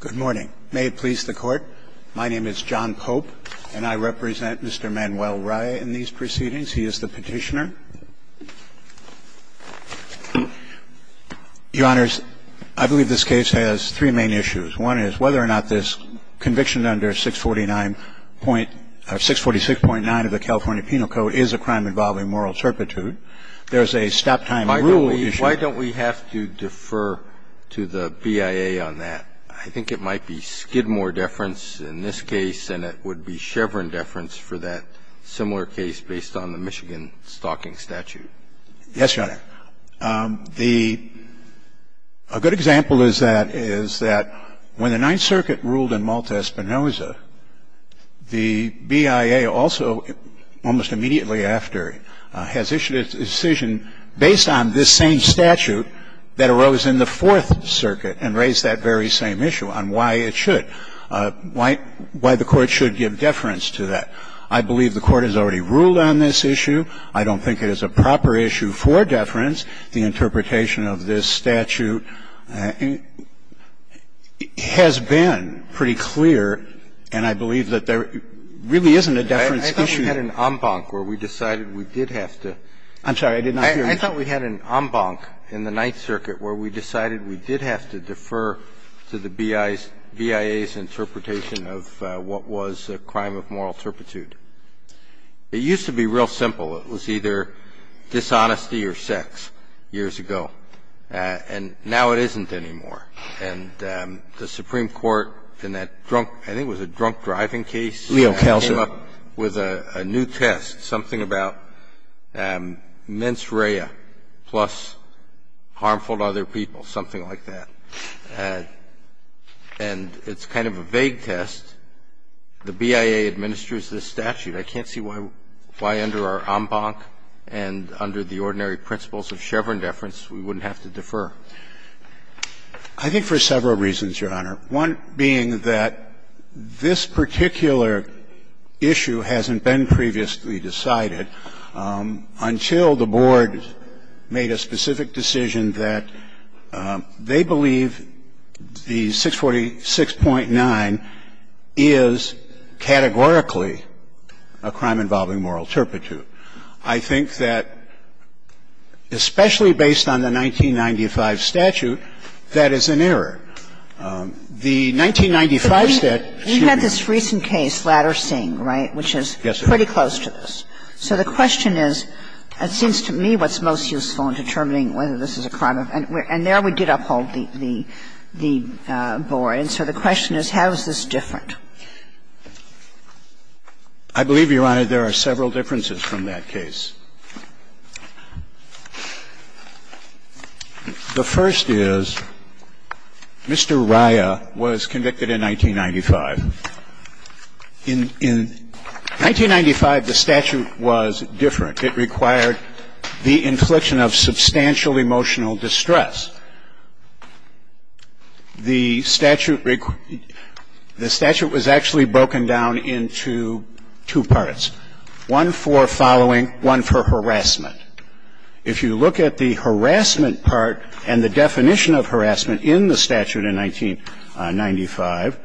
Good morning. May it please the Court, my name is John Pope, and I represent Mr. Manuel Raya in these proceedings. He is the petitioner. Your Honors, I believe this case has three main issues. One is whether or not this conviction under 646.9 of the California Penal Code is a crime involving moral turpitude. There's a stop-time rule issue. Why don't we have to defer to the BIA on that? I think it might be Skidmore deference in this case, and it would be Chevron deference for that similar case based on the Michigan stalking statute. Yes, Your Honor. A good example of that is that when the Ninth Circuit ruled in Malta-Espinoza, the BIA also almost immediately after has issued a decision based on this same statute that arose in the Fourth Circuit and raised that very same issue on why it should, why the Court should give deference to that. I believe the Court has already ruled on this issue. I don't think it is a proper issue for deference. The interpretation of this statute has been pretty clear, and I believe that there really isn't a deference issue. I thought we had an en banc where we decided we did have to. I'm sorry. I did not hear you. I thought we had an en banc in the Ninth Circuit where we decided we did have to defer to the BIA's interpretation of what was a crime of moral turpitude. It used to be real simple. It was either dishonesty or sex years ago. And now it isn't anymore. And the Supreme Court in that drunk – I think it was a drunk driving case. Leo Kelsey. Came up with a new test, something about mens rea plus harmful to other people, something like that. And it's kind of a vague test. The BIA administers this statute. I can't see why under our en banc and under the ordinary principles of Chevron deference we wouldn't have to defer. I think for several reasons, Your Honor, one being that this particular issue hasn't been previously decided until the Board made a specific decision that they believe the 646.9 is categorically a crime involving moral turpitude. I think that, especially based on the 1995 statute, that is an error. The 1995 statute – We had this recent case, Ladder-Singh, right, which is pretty close to this. So the question is, it seems to me what's most useful in determining whether this is a crime of – and there we did uphold the Board. And so the question is, how is this different? I believe, Your Honor, there are several differences from that case. The first is, Mr. Rya was convicted in 1995. In 1995, the statute was different. It required the infliction of substantial emotional distress. The statute – the statute was actually broken down into two parts, one for following, one for harassment. If you look at the harassment part and the definition of harassment in the statute in 1995,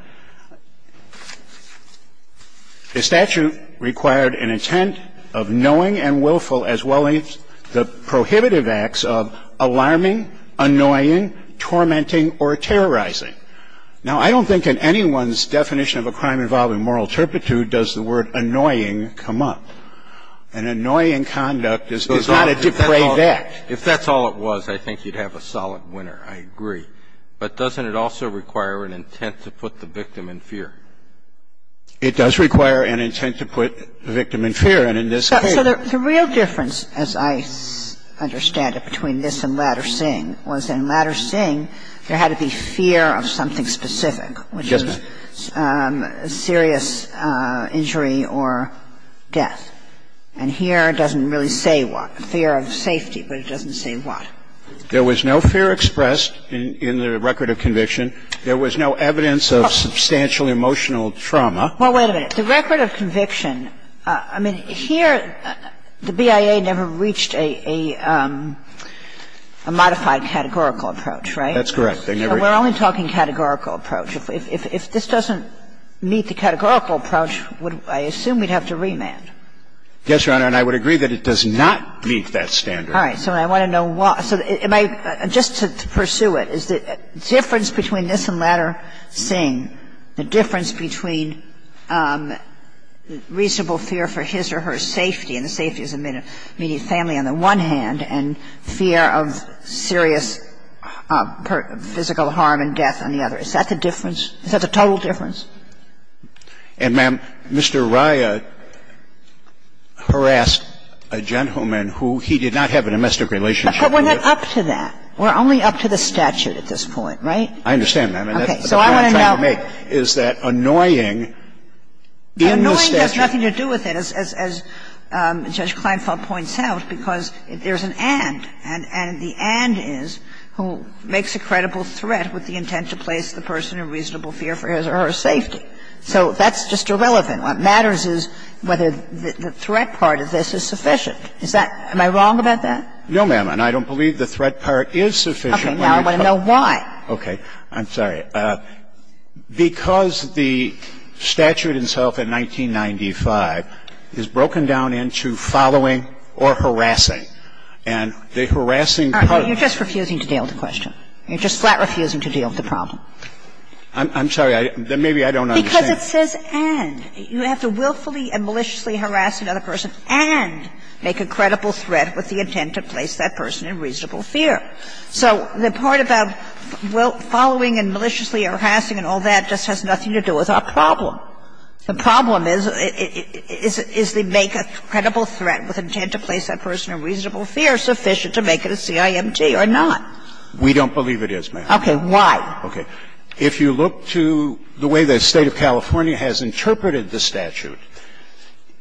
the statute required an intent of knowing and willful, as well as the prohibitive acts of alarming, annoying, tormenting, or terrorizing. Now, I don't think in anyone's definition of a crime involving moral turpitude does the word annoying come up. An annoying conduct is not a depraved act. If that's all it was, I think you'd have a solid winner, I agree. But doesn't it also require an intent to put the victim in fear? It does require an intent to put the victim in fear. And in this case – So the real difference, as I understand it, between this and Ladder-Singh was in Ladder-Singh there had to be fear of something specific, which is serious injury or death. And here it doesn't really say what, fear of safety, but it doesn't say what. There was no fear expressed in the record of conviction. There was no evidence of substantial emotional trauma. Well, wait a minute. The record of conviction, I mean, here the BIA never reached a modified categorical approach, right? That's correct. They never – We're only talking categorical approach. If this doesn't meet the categorical approach, I assume we'd have to remand. Yes, Your Honor. And I would agree that it does not meet that standard. All right. So I want to know why. So am I – just to pursue it, is the difference between this and Ladder-Singh, the difference between reasonable fear for his or her safety, and the safety of the immediate family on the one hand, and fear of serious physical harm and death on the other, is that the difference? Is that the total difference? And, ma'am, Mr. Rya harassed a gentleman who he did not have a domestic relationship with. But we're not up to that. We're only up to the statute at this point, right? I understand, ma'am. So I want to know – And that's the point I'm trying to make, is that annoying in the statute – Annoying has nothing to do with it, as Judge Kleinfeld points out, because there's an and, and the and is who makes a credible threat with the intent to place the person in a reasonable fear for his or her safety. So that's just irrelevant. What matters is whether the threat part of this is sufficient. Is that – am I wrong about that? No, ma'am. And I don't believe the threat part is sufficient. Okay. Now I want to know why. Okay. I'm sorry. Because the statute itself in 1995 is broken down into following or harassing. And the harassing part of it – All right. You're just refusing to deal with the question. You're just flat refusing to deal with the problem. I'm sorry. Maybe I don't understand. Because it says and. You have to willfully and maliciously harass another person and make a credible threat with the intent to place that person in reasonable fear. So the part about following and maliciously harassing and all that just has nothing to do with our problem. The problem is, is the make a credible threat with intent to place that person in reasonable fear sufficient to make it a CIMT or not? We don't believe it is, ma'am. Why? Okay. If you look to the way the State of California has interpreted the statute,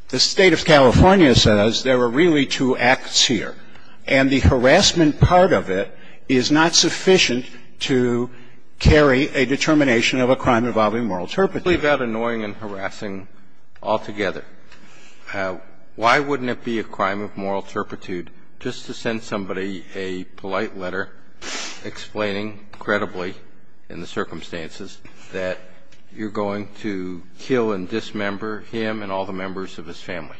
the State of California says there are really two acts here. And the harassment part of it is not sufficient to carry a determination of a crime involving moral turpitude. We believe that annoying and harassing altogether. Why wouldn't it be a crime of moral turpitude just to send somebody a polite letter explaining credibly in the circumstances that you're going to kill and dismember him and all the members of his family?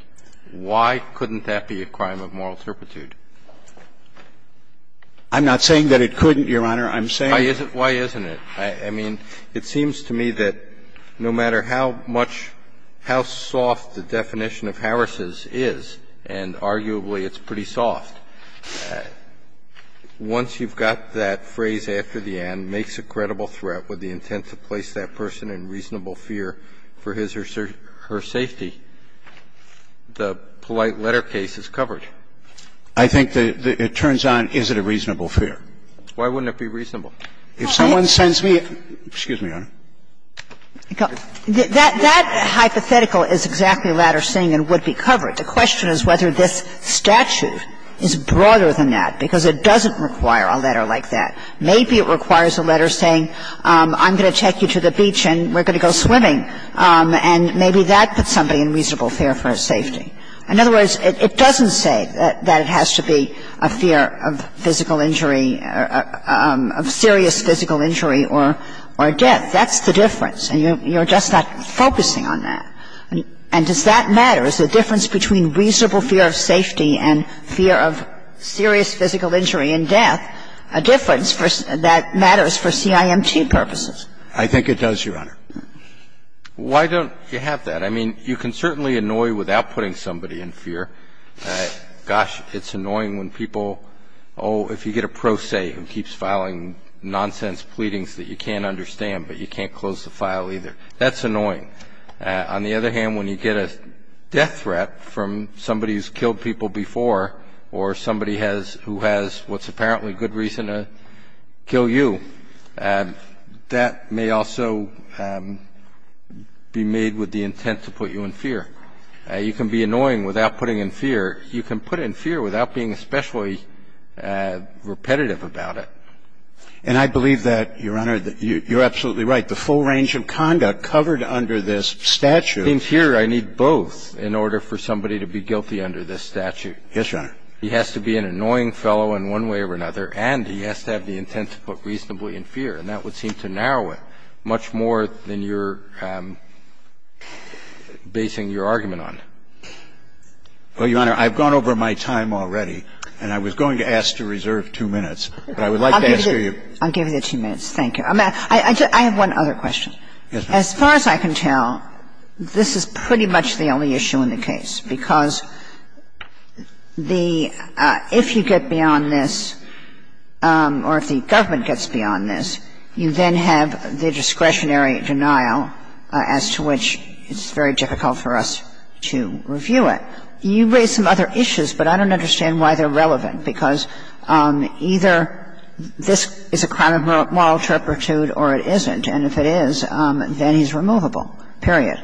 Why couldn't that be a crime of moral turpitude? I'm not saying that it couldn't, Your Honor. I'm saying that. Why isn't it? I mean, it seems to me that no matter how much, how soft the definition of harasses is, and arguably it's pretty soft, once you've got that phrase after the end, makes a credible threat with the intent to place that person in reasonable fear for his or her safety, the polite letter case is covered. I think that it turns on is it a reasonable fear. Why wouldn't it be reasonable? Excuse me, Your Honor. That hypothetical is exactly a letter saying it would be covered. The question is whether this statute is broader than that, because it doesn't require a letter like that. Maybe it requires a letter saying, I'm going to take you to the beach and we're going to go swimming, and maybe that puts somebody in reasonable fear for his safety. In other words, it doesn't say that it has to be a fear of physical injury, of serious physical injury or death. That's the difference, and you're just not focusing on that. And does that matter? Is the difference between reasonable fear of safety and fear of serious physical injury and death a difference that matters for CIMT purposes? I think it does, Your Honor. Why don't you have that? I mean, you can certainly annoy without putting somebody in fear. Gosh, it's annoying when people, oh, if you get a pro se who keeps filing nonsense pleadings that you can't understand but you can't close the file either. That's annoying. On the other hand, when you get a death threat from somebody who's killed people before or somebody who has what's apparently good reason to kill you, that may also be made with the intent to put you in fear. You can be annoying without putting in fear. You can put in fear without being especially repetitive about it. And I believe that, Your Honor, you're absolutely right. The full range of conduct covered under this statute. It seems here I need both in order for somebody to be guilty under this statute. Yes, Your Honor. He has to be an annoying fellow in one way or another, and he has to have the intent to put reasonably in fear, and that would seem to narrow it much more than you're basing your argument on. Well, Your Honor, I've gone over my time already, and I was going to ask to reserve two minutes. But I would like to ask you. I'll give you the two minutes. Thank you. I have one other question. Yes, ma'am. As far as I can tell, this is pretty much the only issue in the case, because the – if you get beyond this or if the government gets beyond this, you then have the discretionary denial as to which it's very difficult for us to review it. And I'm not saying that this is a crime involving moral turpitude. I'm saying that this is a crime involving moral turpitude. You raise some other issues, but I don't understand why they're relevant, because either this is a crime of moral turpitude or it isn't. And if it is, then he's removable, period.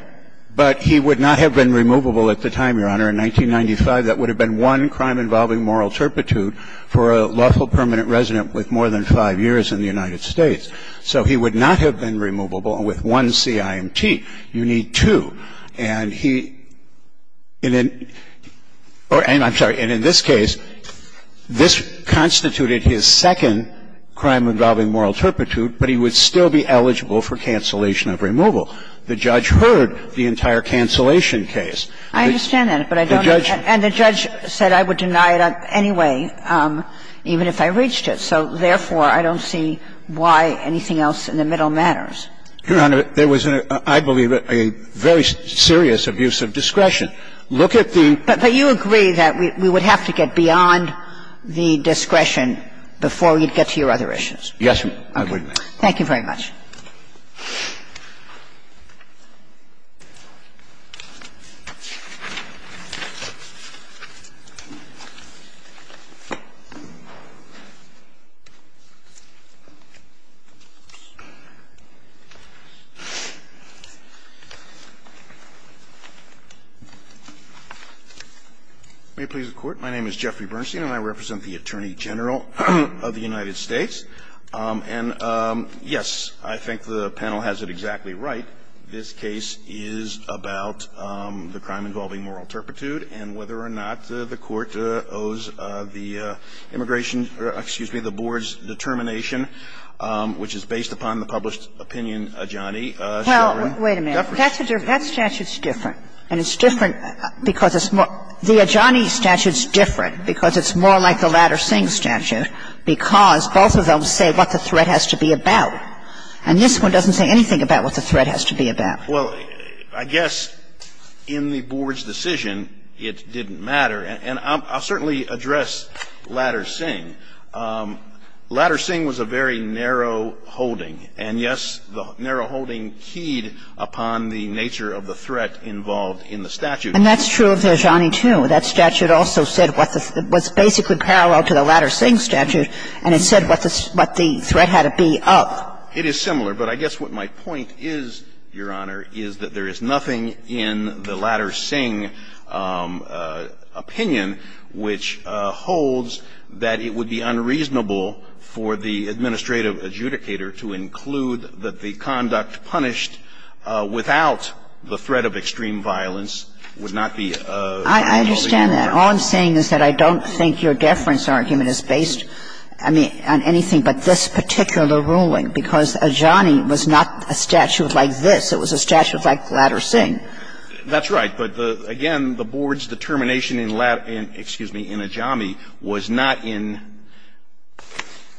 But he would not have been removable at the time, Your Honor. In 1995, that would have been one crime involving moral turpitude for a lawful permanent resident with more than five years in the United States. So he would not have been removable with one CIMT. You need two. And he – and in – I'm sorry. And in this case, this constituted his second crime involving moral turpitude, but he would still be eligible for cancellation of removal. The judge heard the entire cancellation case. I understand that, but I don't – The judge – The judge heard the entire cancellation case, but I don't understand why it's not I don't understand why it's not a crime involving moral turpitude. So therefore, I don't see why anything else in the middle matters. Your Honor, there was, I believe, a very serious abuse of discretion. Look at the – But you agree that we would have to get beyond the discretion before we'd get to your other issues. Yes, Madam. I agree with you. Thank you very much. May it please the Court. My name is Jeffrey Bernstein, and I represent the Attorney General of the United States. And, yes, I think the panel has it exactly right. This case is about the crime involving moral turpitude and whether or not the Court owes the immigration – excuse me, the board's determination, which is based upon the published opinion adjani. Well, wait a minute. That statute's different. And it's different because it's more – the adjani statute's different because it's more like the Ladder-Singh statute because both of them say what the threat has to be about. And this one doesn't say anything about what the threat has to be about. Well, I guess in the board's decision, it didn't matter. And I'll certainly address Ladder-Singh. Ladder-Singh was a very narrow holding. And, yes, the narrow holding keyed upon the nature of the threat involved in the statute. And that's true of the adjani, too. That statute also said what the – was basically parallel to the Ladder-Singh statute, and it said what the threat had to be of. It is similar. But I guess what my point is, Your Honor, is that there is nothing in the Ladder-Singh opinion which holds that it would be unreasonable for the administrative adjudicator to include that the conduct punished without the threat of extreme violence would not be a valid argument. I understand that. All I'm saying is that I don't think your deference argument is based, I mean, on anything but this particular ruling, because adjani was not a statute like this. It was a statute like Ladder-Singh. That's right. But, again, the board's determination in – excuse me – in adjani was not in –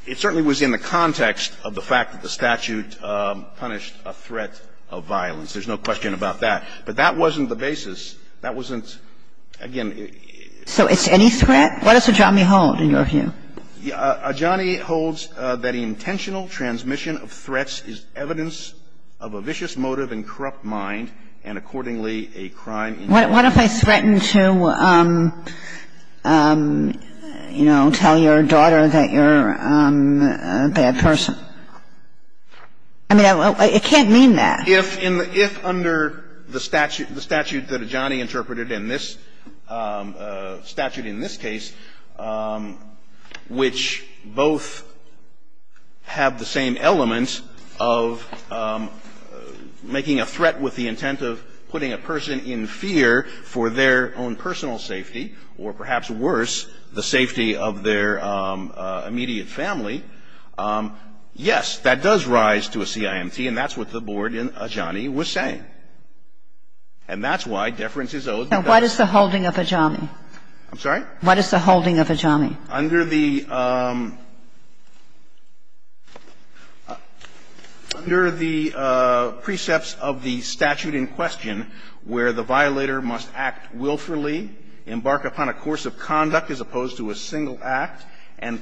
it certainly was in the context of the fact that the statute punished a threat of violence. There's no question about that. But that wasn't the basis. That wasn't – again, it – So it's any threat? What does adjani hold, in your view? Adjani holds that the intentional transmission of threats is evidence of a vicious motive and corrupt mind, and accordingly, a crime in – What if I threatened to, you know, tell your daughter that you're a bad person? I mean, it can't mean that. If under the statute that adjani interpreted in this – statute in this case, which both have the same element of making a threat with the intent of putting a person in fear for their own personal safety, or perhaps worse, the safety of their immediate family, yes, that does rise to a CIMT. And that's what the board in adjani was saying. And that's why deference is owed because – Now, what is the holding of adjani? I'm sorry? What is the holding of adjani? Under the – under the precepts of the statute in question, where the violator must act willfully, embark upon a course of conduct as opposed to a single act, and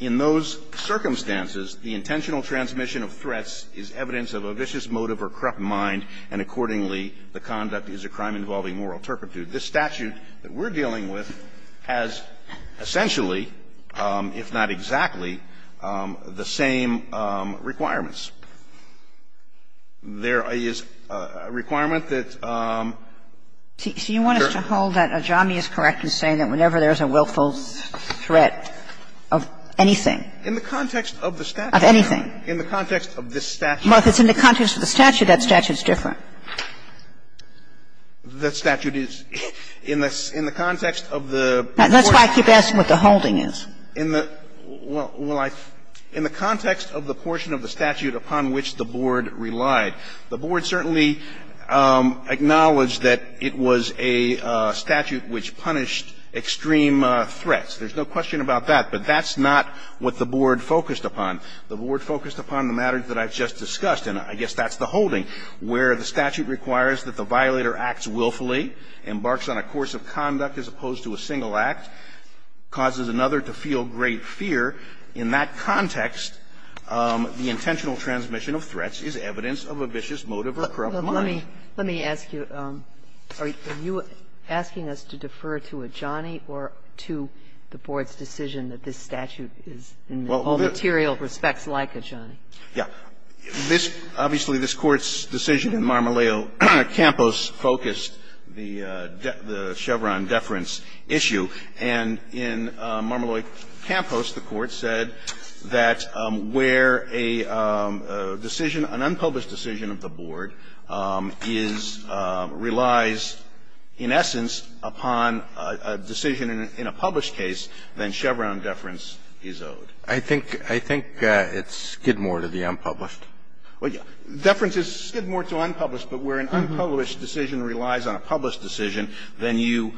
In those circumstances, the intentional transmission of threats is evidence of a vicious motive or corrupt mind, and accordingly, the conduct is a crime involving moral turpitude. This statute that we're dealing with has essentially, if not exactly, the same requirements. There is a requirement that – So you want us to hold that adjani is correct in saying that whenever there is a willful threat of anything? In the context of the statute. Of anything? In the context of this statute. Well, if it's in the context of the statute, that statute is different. The statute is in the context of the – That's why I keep asking what the holding is. In the – well, in the context of the portion of the statute upon which the board relied, the board certainly acknowledged that it was a statute which punished extreme threats. There's no question about that, but that's not what the board focused upon. The board focused upon the matters that I've just discussed, and I guess that's the holding, where the statute requires that the violator acts willfully, embarks on a course of conduct as opposed to a single act, causes another to feel great fear. In that context, the intentional transmission of threats is evidence of a vicious motive or corrupt mind. Well, let me ask you, are you asking us to defer to adjani or to the board's decision that this statute is in all material respects like adjani? Yeah. This – obviously, this Court's decision in Marmoleo Campos focused the Chevron deference issue, and in Marmoleo Campos, the Court said that where a decision – an unpublished decision of the board is – relies in essence upon a decision in a published case, then Chevron deference is owed. I think – I think it's Skidmore to the unpublished. Well, yeah. Deference is Skidmore to unpublished, but where an unpublished decision relies on a decision in a published case, then Chevron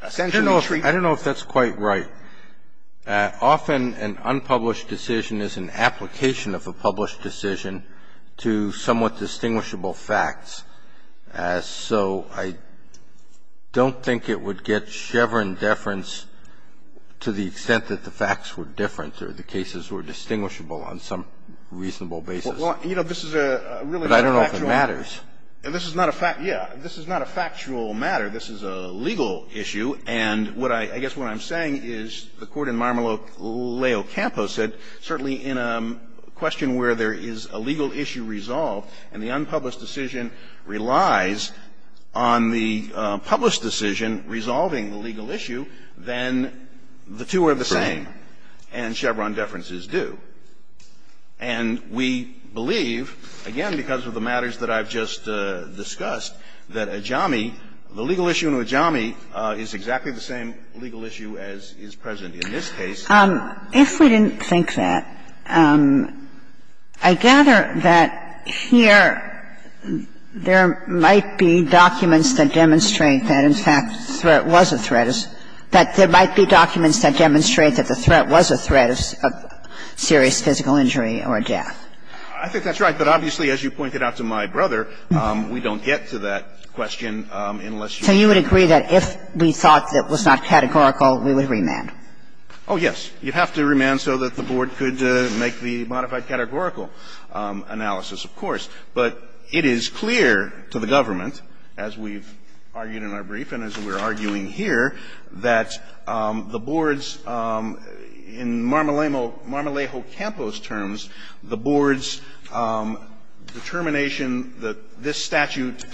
deference is owed. I don't know if that's quite right. Often, an unpublished decision is an application of a published decision to somewhat distinguishable facts, so I don't think it would get Chevron deference to the extent that the facts were different or the cases were distinguishable on some reasonable basis. Well, you know, this is a really factual matter. But I don't know if it matters. This is not a fact – yeah. This is not a factual matter. This is a legal issue. And what I – I guess what I'm saying is the Court in Marmoleo Campos said, certainly in a question where there is a legal issue resolved and the unpublished decision relies on the published decision resolving the legal issue, then the two are the same and Chevron deference is due. And we believe, again, because of the matters that I've just discussed, that Ajami – the legal issue in Ajami is exactly the same legal issue as is present in this case. If we didn't think that, I gather that here there might be documents that demonstrate that, in fact, the threat was a threat, that there might be documents that demonstrate that the threat was a threat of serious physical injury or death. I think that's right. But obviously, as you pointed out to my brother, we don't get to that question unless you – So you would agree that if we thought that was not categorical, we would remand? Oh, yes. You'd have to remand so that the Board could make the modified categorical analysis, of course. But it is clear to the government, as we've argued in our brief and as we're arguing here, that the Board's – in Marmolejo Campos' terms, the Board's determination that this statute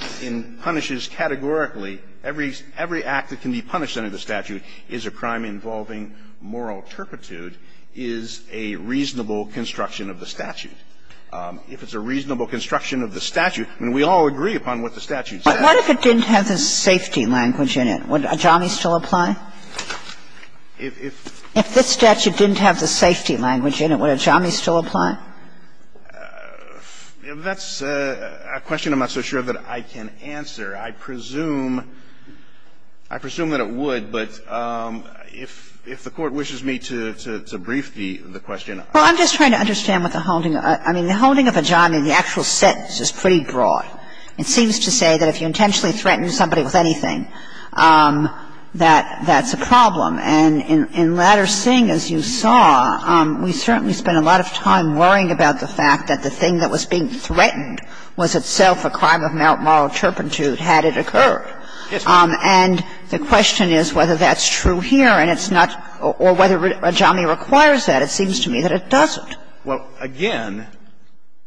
punishes categorically, every act that can be punished under the statute is a crime involving moral turpitude, is a reasonable construction of the statute. If it's a reasonable construction of the statute – and we all agree upon what the statute says. But what if it didn't have the safety language in it? Would ajami still apply? If this statute didn't have the safety language in it, would ajami still apply? If that's a question I'm not so sure that I can answer, I presume – I presume that it would, but if the Court wishes me to brief the question, I will. Well, I'm just trying to understand what the holding – I mean, the holding of ajami in the actual sentence is pretty broad. It seems to say that if you intentionally threaten somebody with anything, that that's a problem. And in Ladder-Singh, as you saw, we certainly spent a lot of time worrying about the fact that the thing that was being threatened was itself a crime of moral turpitude had it occurred. And the question is whether that's true here, and it's not – or whether ajami requires that. It seems to me that it doesn't. Well, again,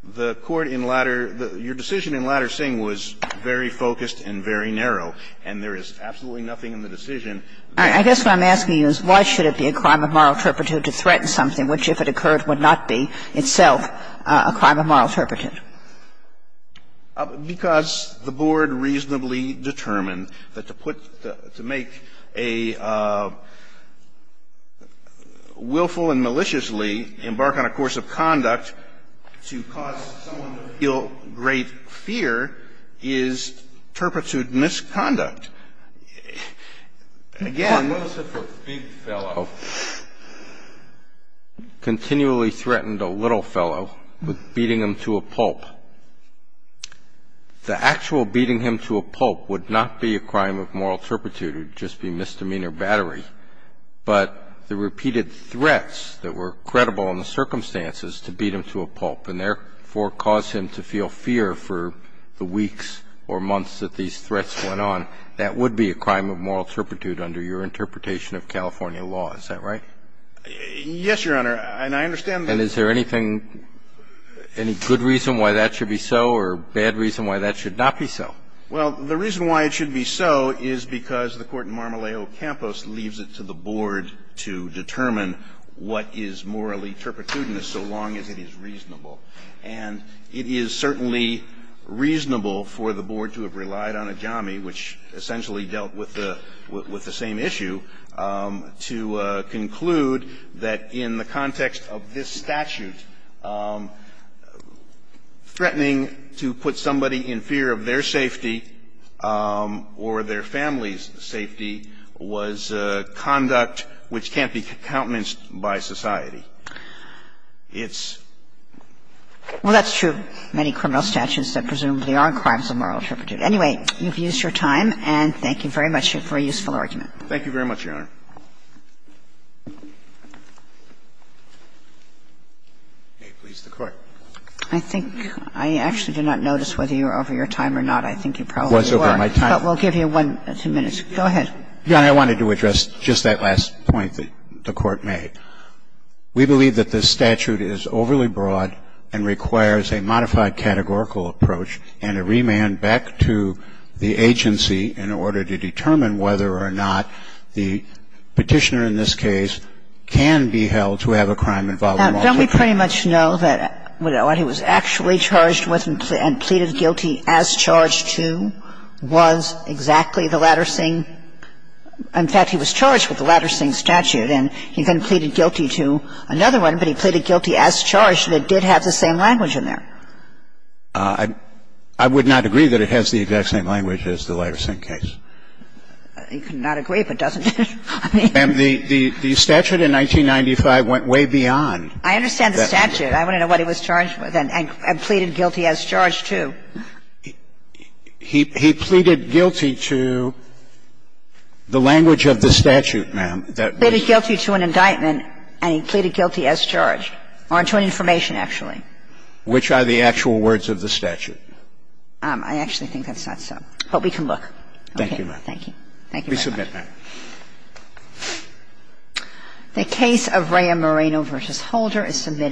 the Court in Ladder – your decision in Ladder-Singh was very focused and very narrow, and there is absolutely nothing in the decision that's true. I guess what I'm asking you is why should it be a crime of moral turpitude to threaten something which, if it occurred, would not be itself a crime of moral turpitude? Because the Board reasonably determined that to put – to make a willful and maliciously embark on a course of conduct to cause someone to feel great fear is turpitude misconduct. Again – And what is it for a big fellow? Continually threatened a little fellow with beating him to a pulp. The actual beating him to a pulp would not be a crime of moral turpitude. It would just be misdemeanor battery. But the repeated threats that were credible in the circumstances to beat him to a pulp and, therefore, cause him to feel fear for the weeks or months that these threats went on, that would be a crime of moral turpitude under your interpretation of California law, is that right? Yes, Your Honor. And I understand that – And is there anything – any good reason why that should be so or bad reason why that should not be so? Well, the reason why it should be so is because the court in Marmoleo Campos leaves it to the Board to determine what is morally turpitude in this so long as it is reasonable. And it is certainly reasonable for the Board to have relied on Ajami, which essentially dealt with the same issue, to conclude that in the context of this statute, threatening to put somebody in fear of their safety or their family's safety was conduct which can't be countenanced by society. It's – Well, that's true of many criminal statutes that presumably are crimes of moral turpitude. Anyway, you've used your time, and thank you very much for a useful argument. May it please the Court. I think I actually do not notice whether you're over your time or not. I think you probably were. I was over my time. But we'll give you one or two minutes. Go ahead. Your Honor, I wanted to address just that last point that the Court made. We believe that this statute is overly broad and requires a modified categorical approach and a remand back to the agency in order to determine whether or not the Petitioner in this case can be held to have a crime involving moral turpitude. We believe that the statute is overly broad and requires a modified categorical Petitioner in this case can be held to have a crime involving moral turpitude. And we pretty much know that what he was actually charged with and pleaded guilty as charged to was exactly the Latter-Singh – in fact, he was charged with the Latter-Singh statute, and he then pleaded guilty to another one, but he pleaded guilty as charged that it did have the same language in there. I would not agree that it has the exact same language as the Latter-Singh case. You could not agree, but doesn't it? I mean the statute in 1995 went way beyond. I understand the statute. I want to know what he was charged with and pleaded guilty as charged to. He pleaded guilty to the language of the statute, ma'am, that was the case. He pleaded guilty to an indictment, and he pleaded guilty as charged, or to an information, actually. Which are the actual words of the statute? I actually think that's not so, but we can look. Thank you, ma'am. Thank you. Thank you very much. We submit, ma'am. The case of Rea Moreno v. Holder is submitted.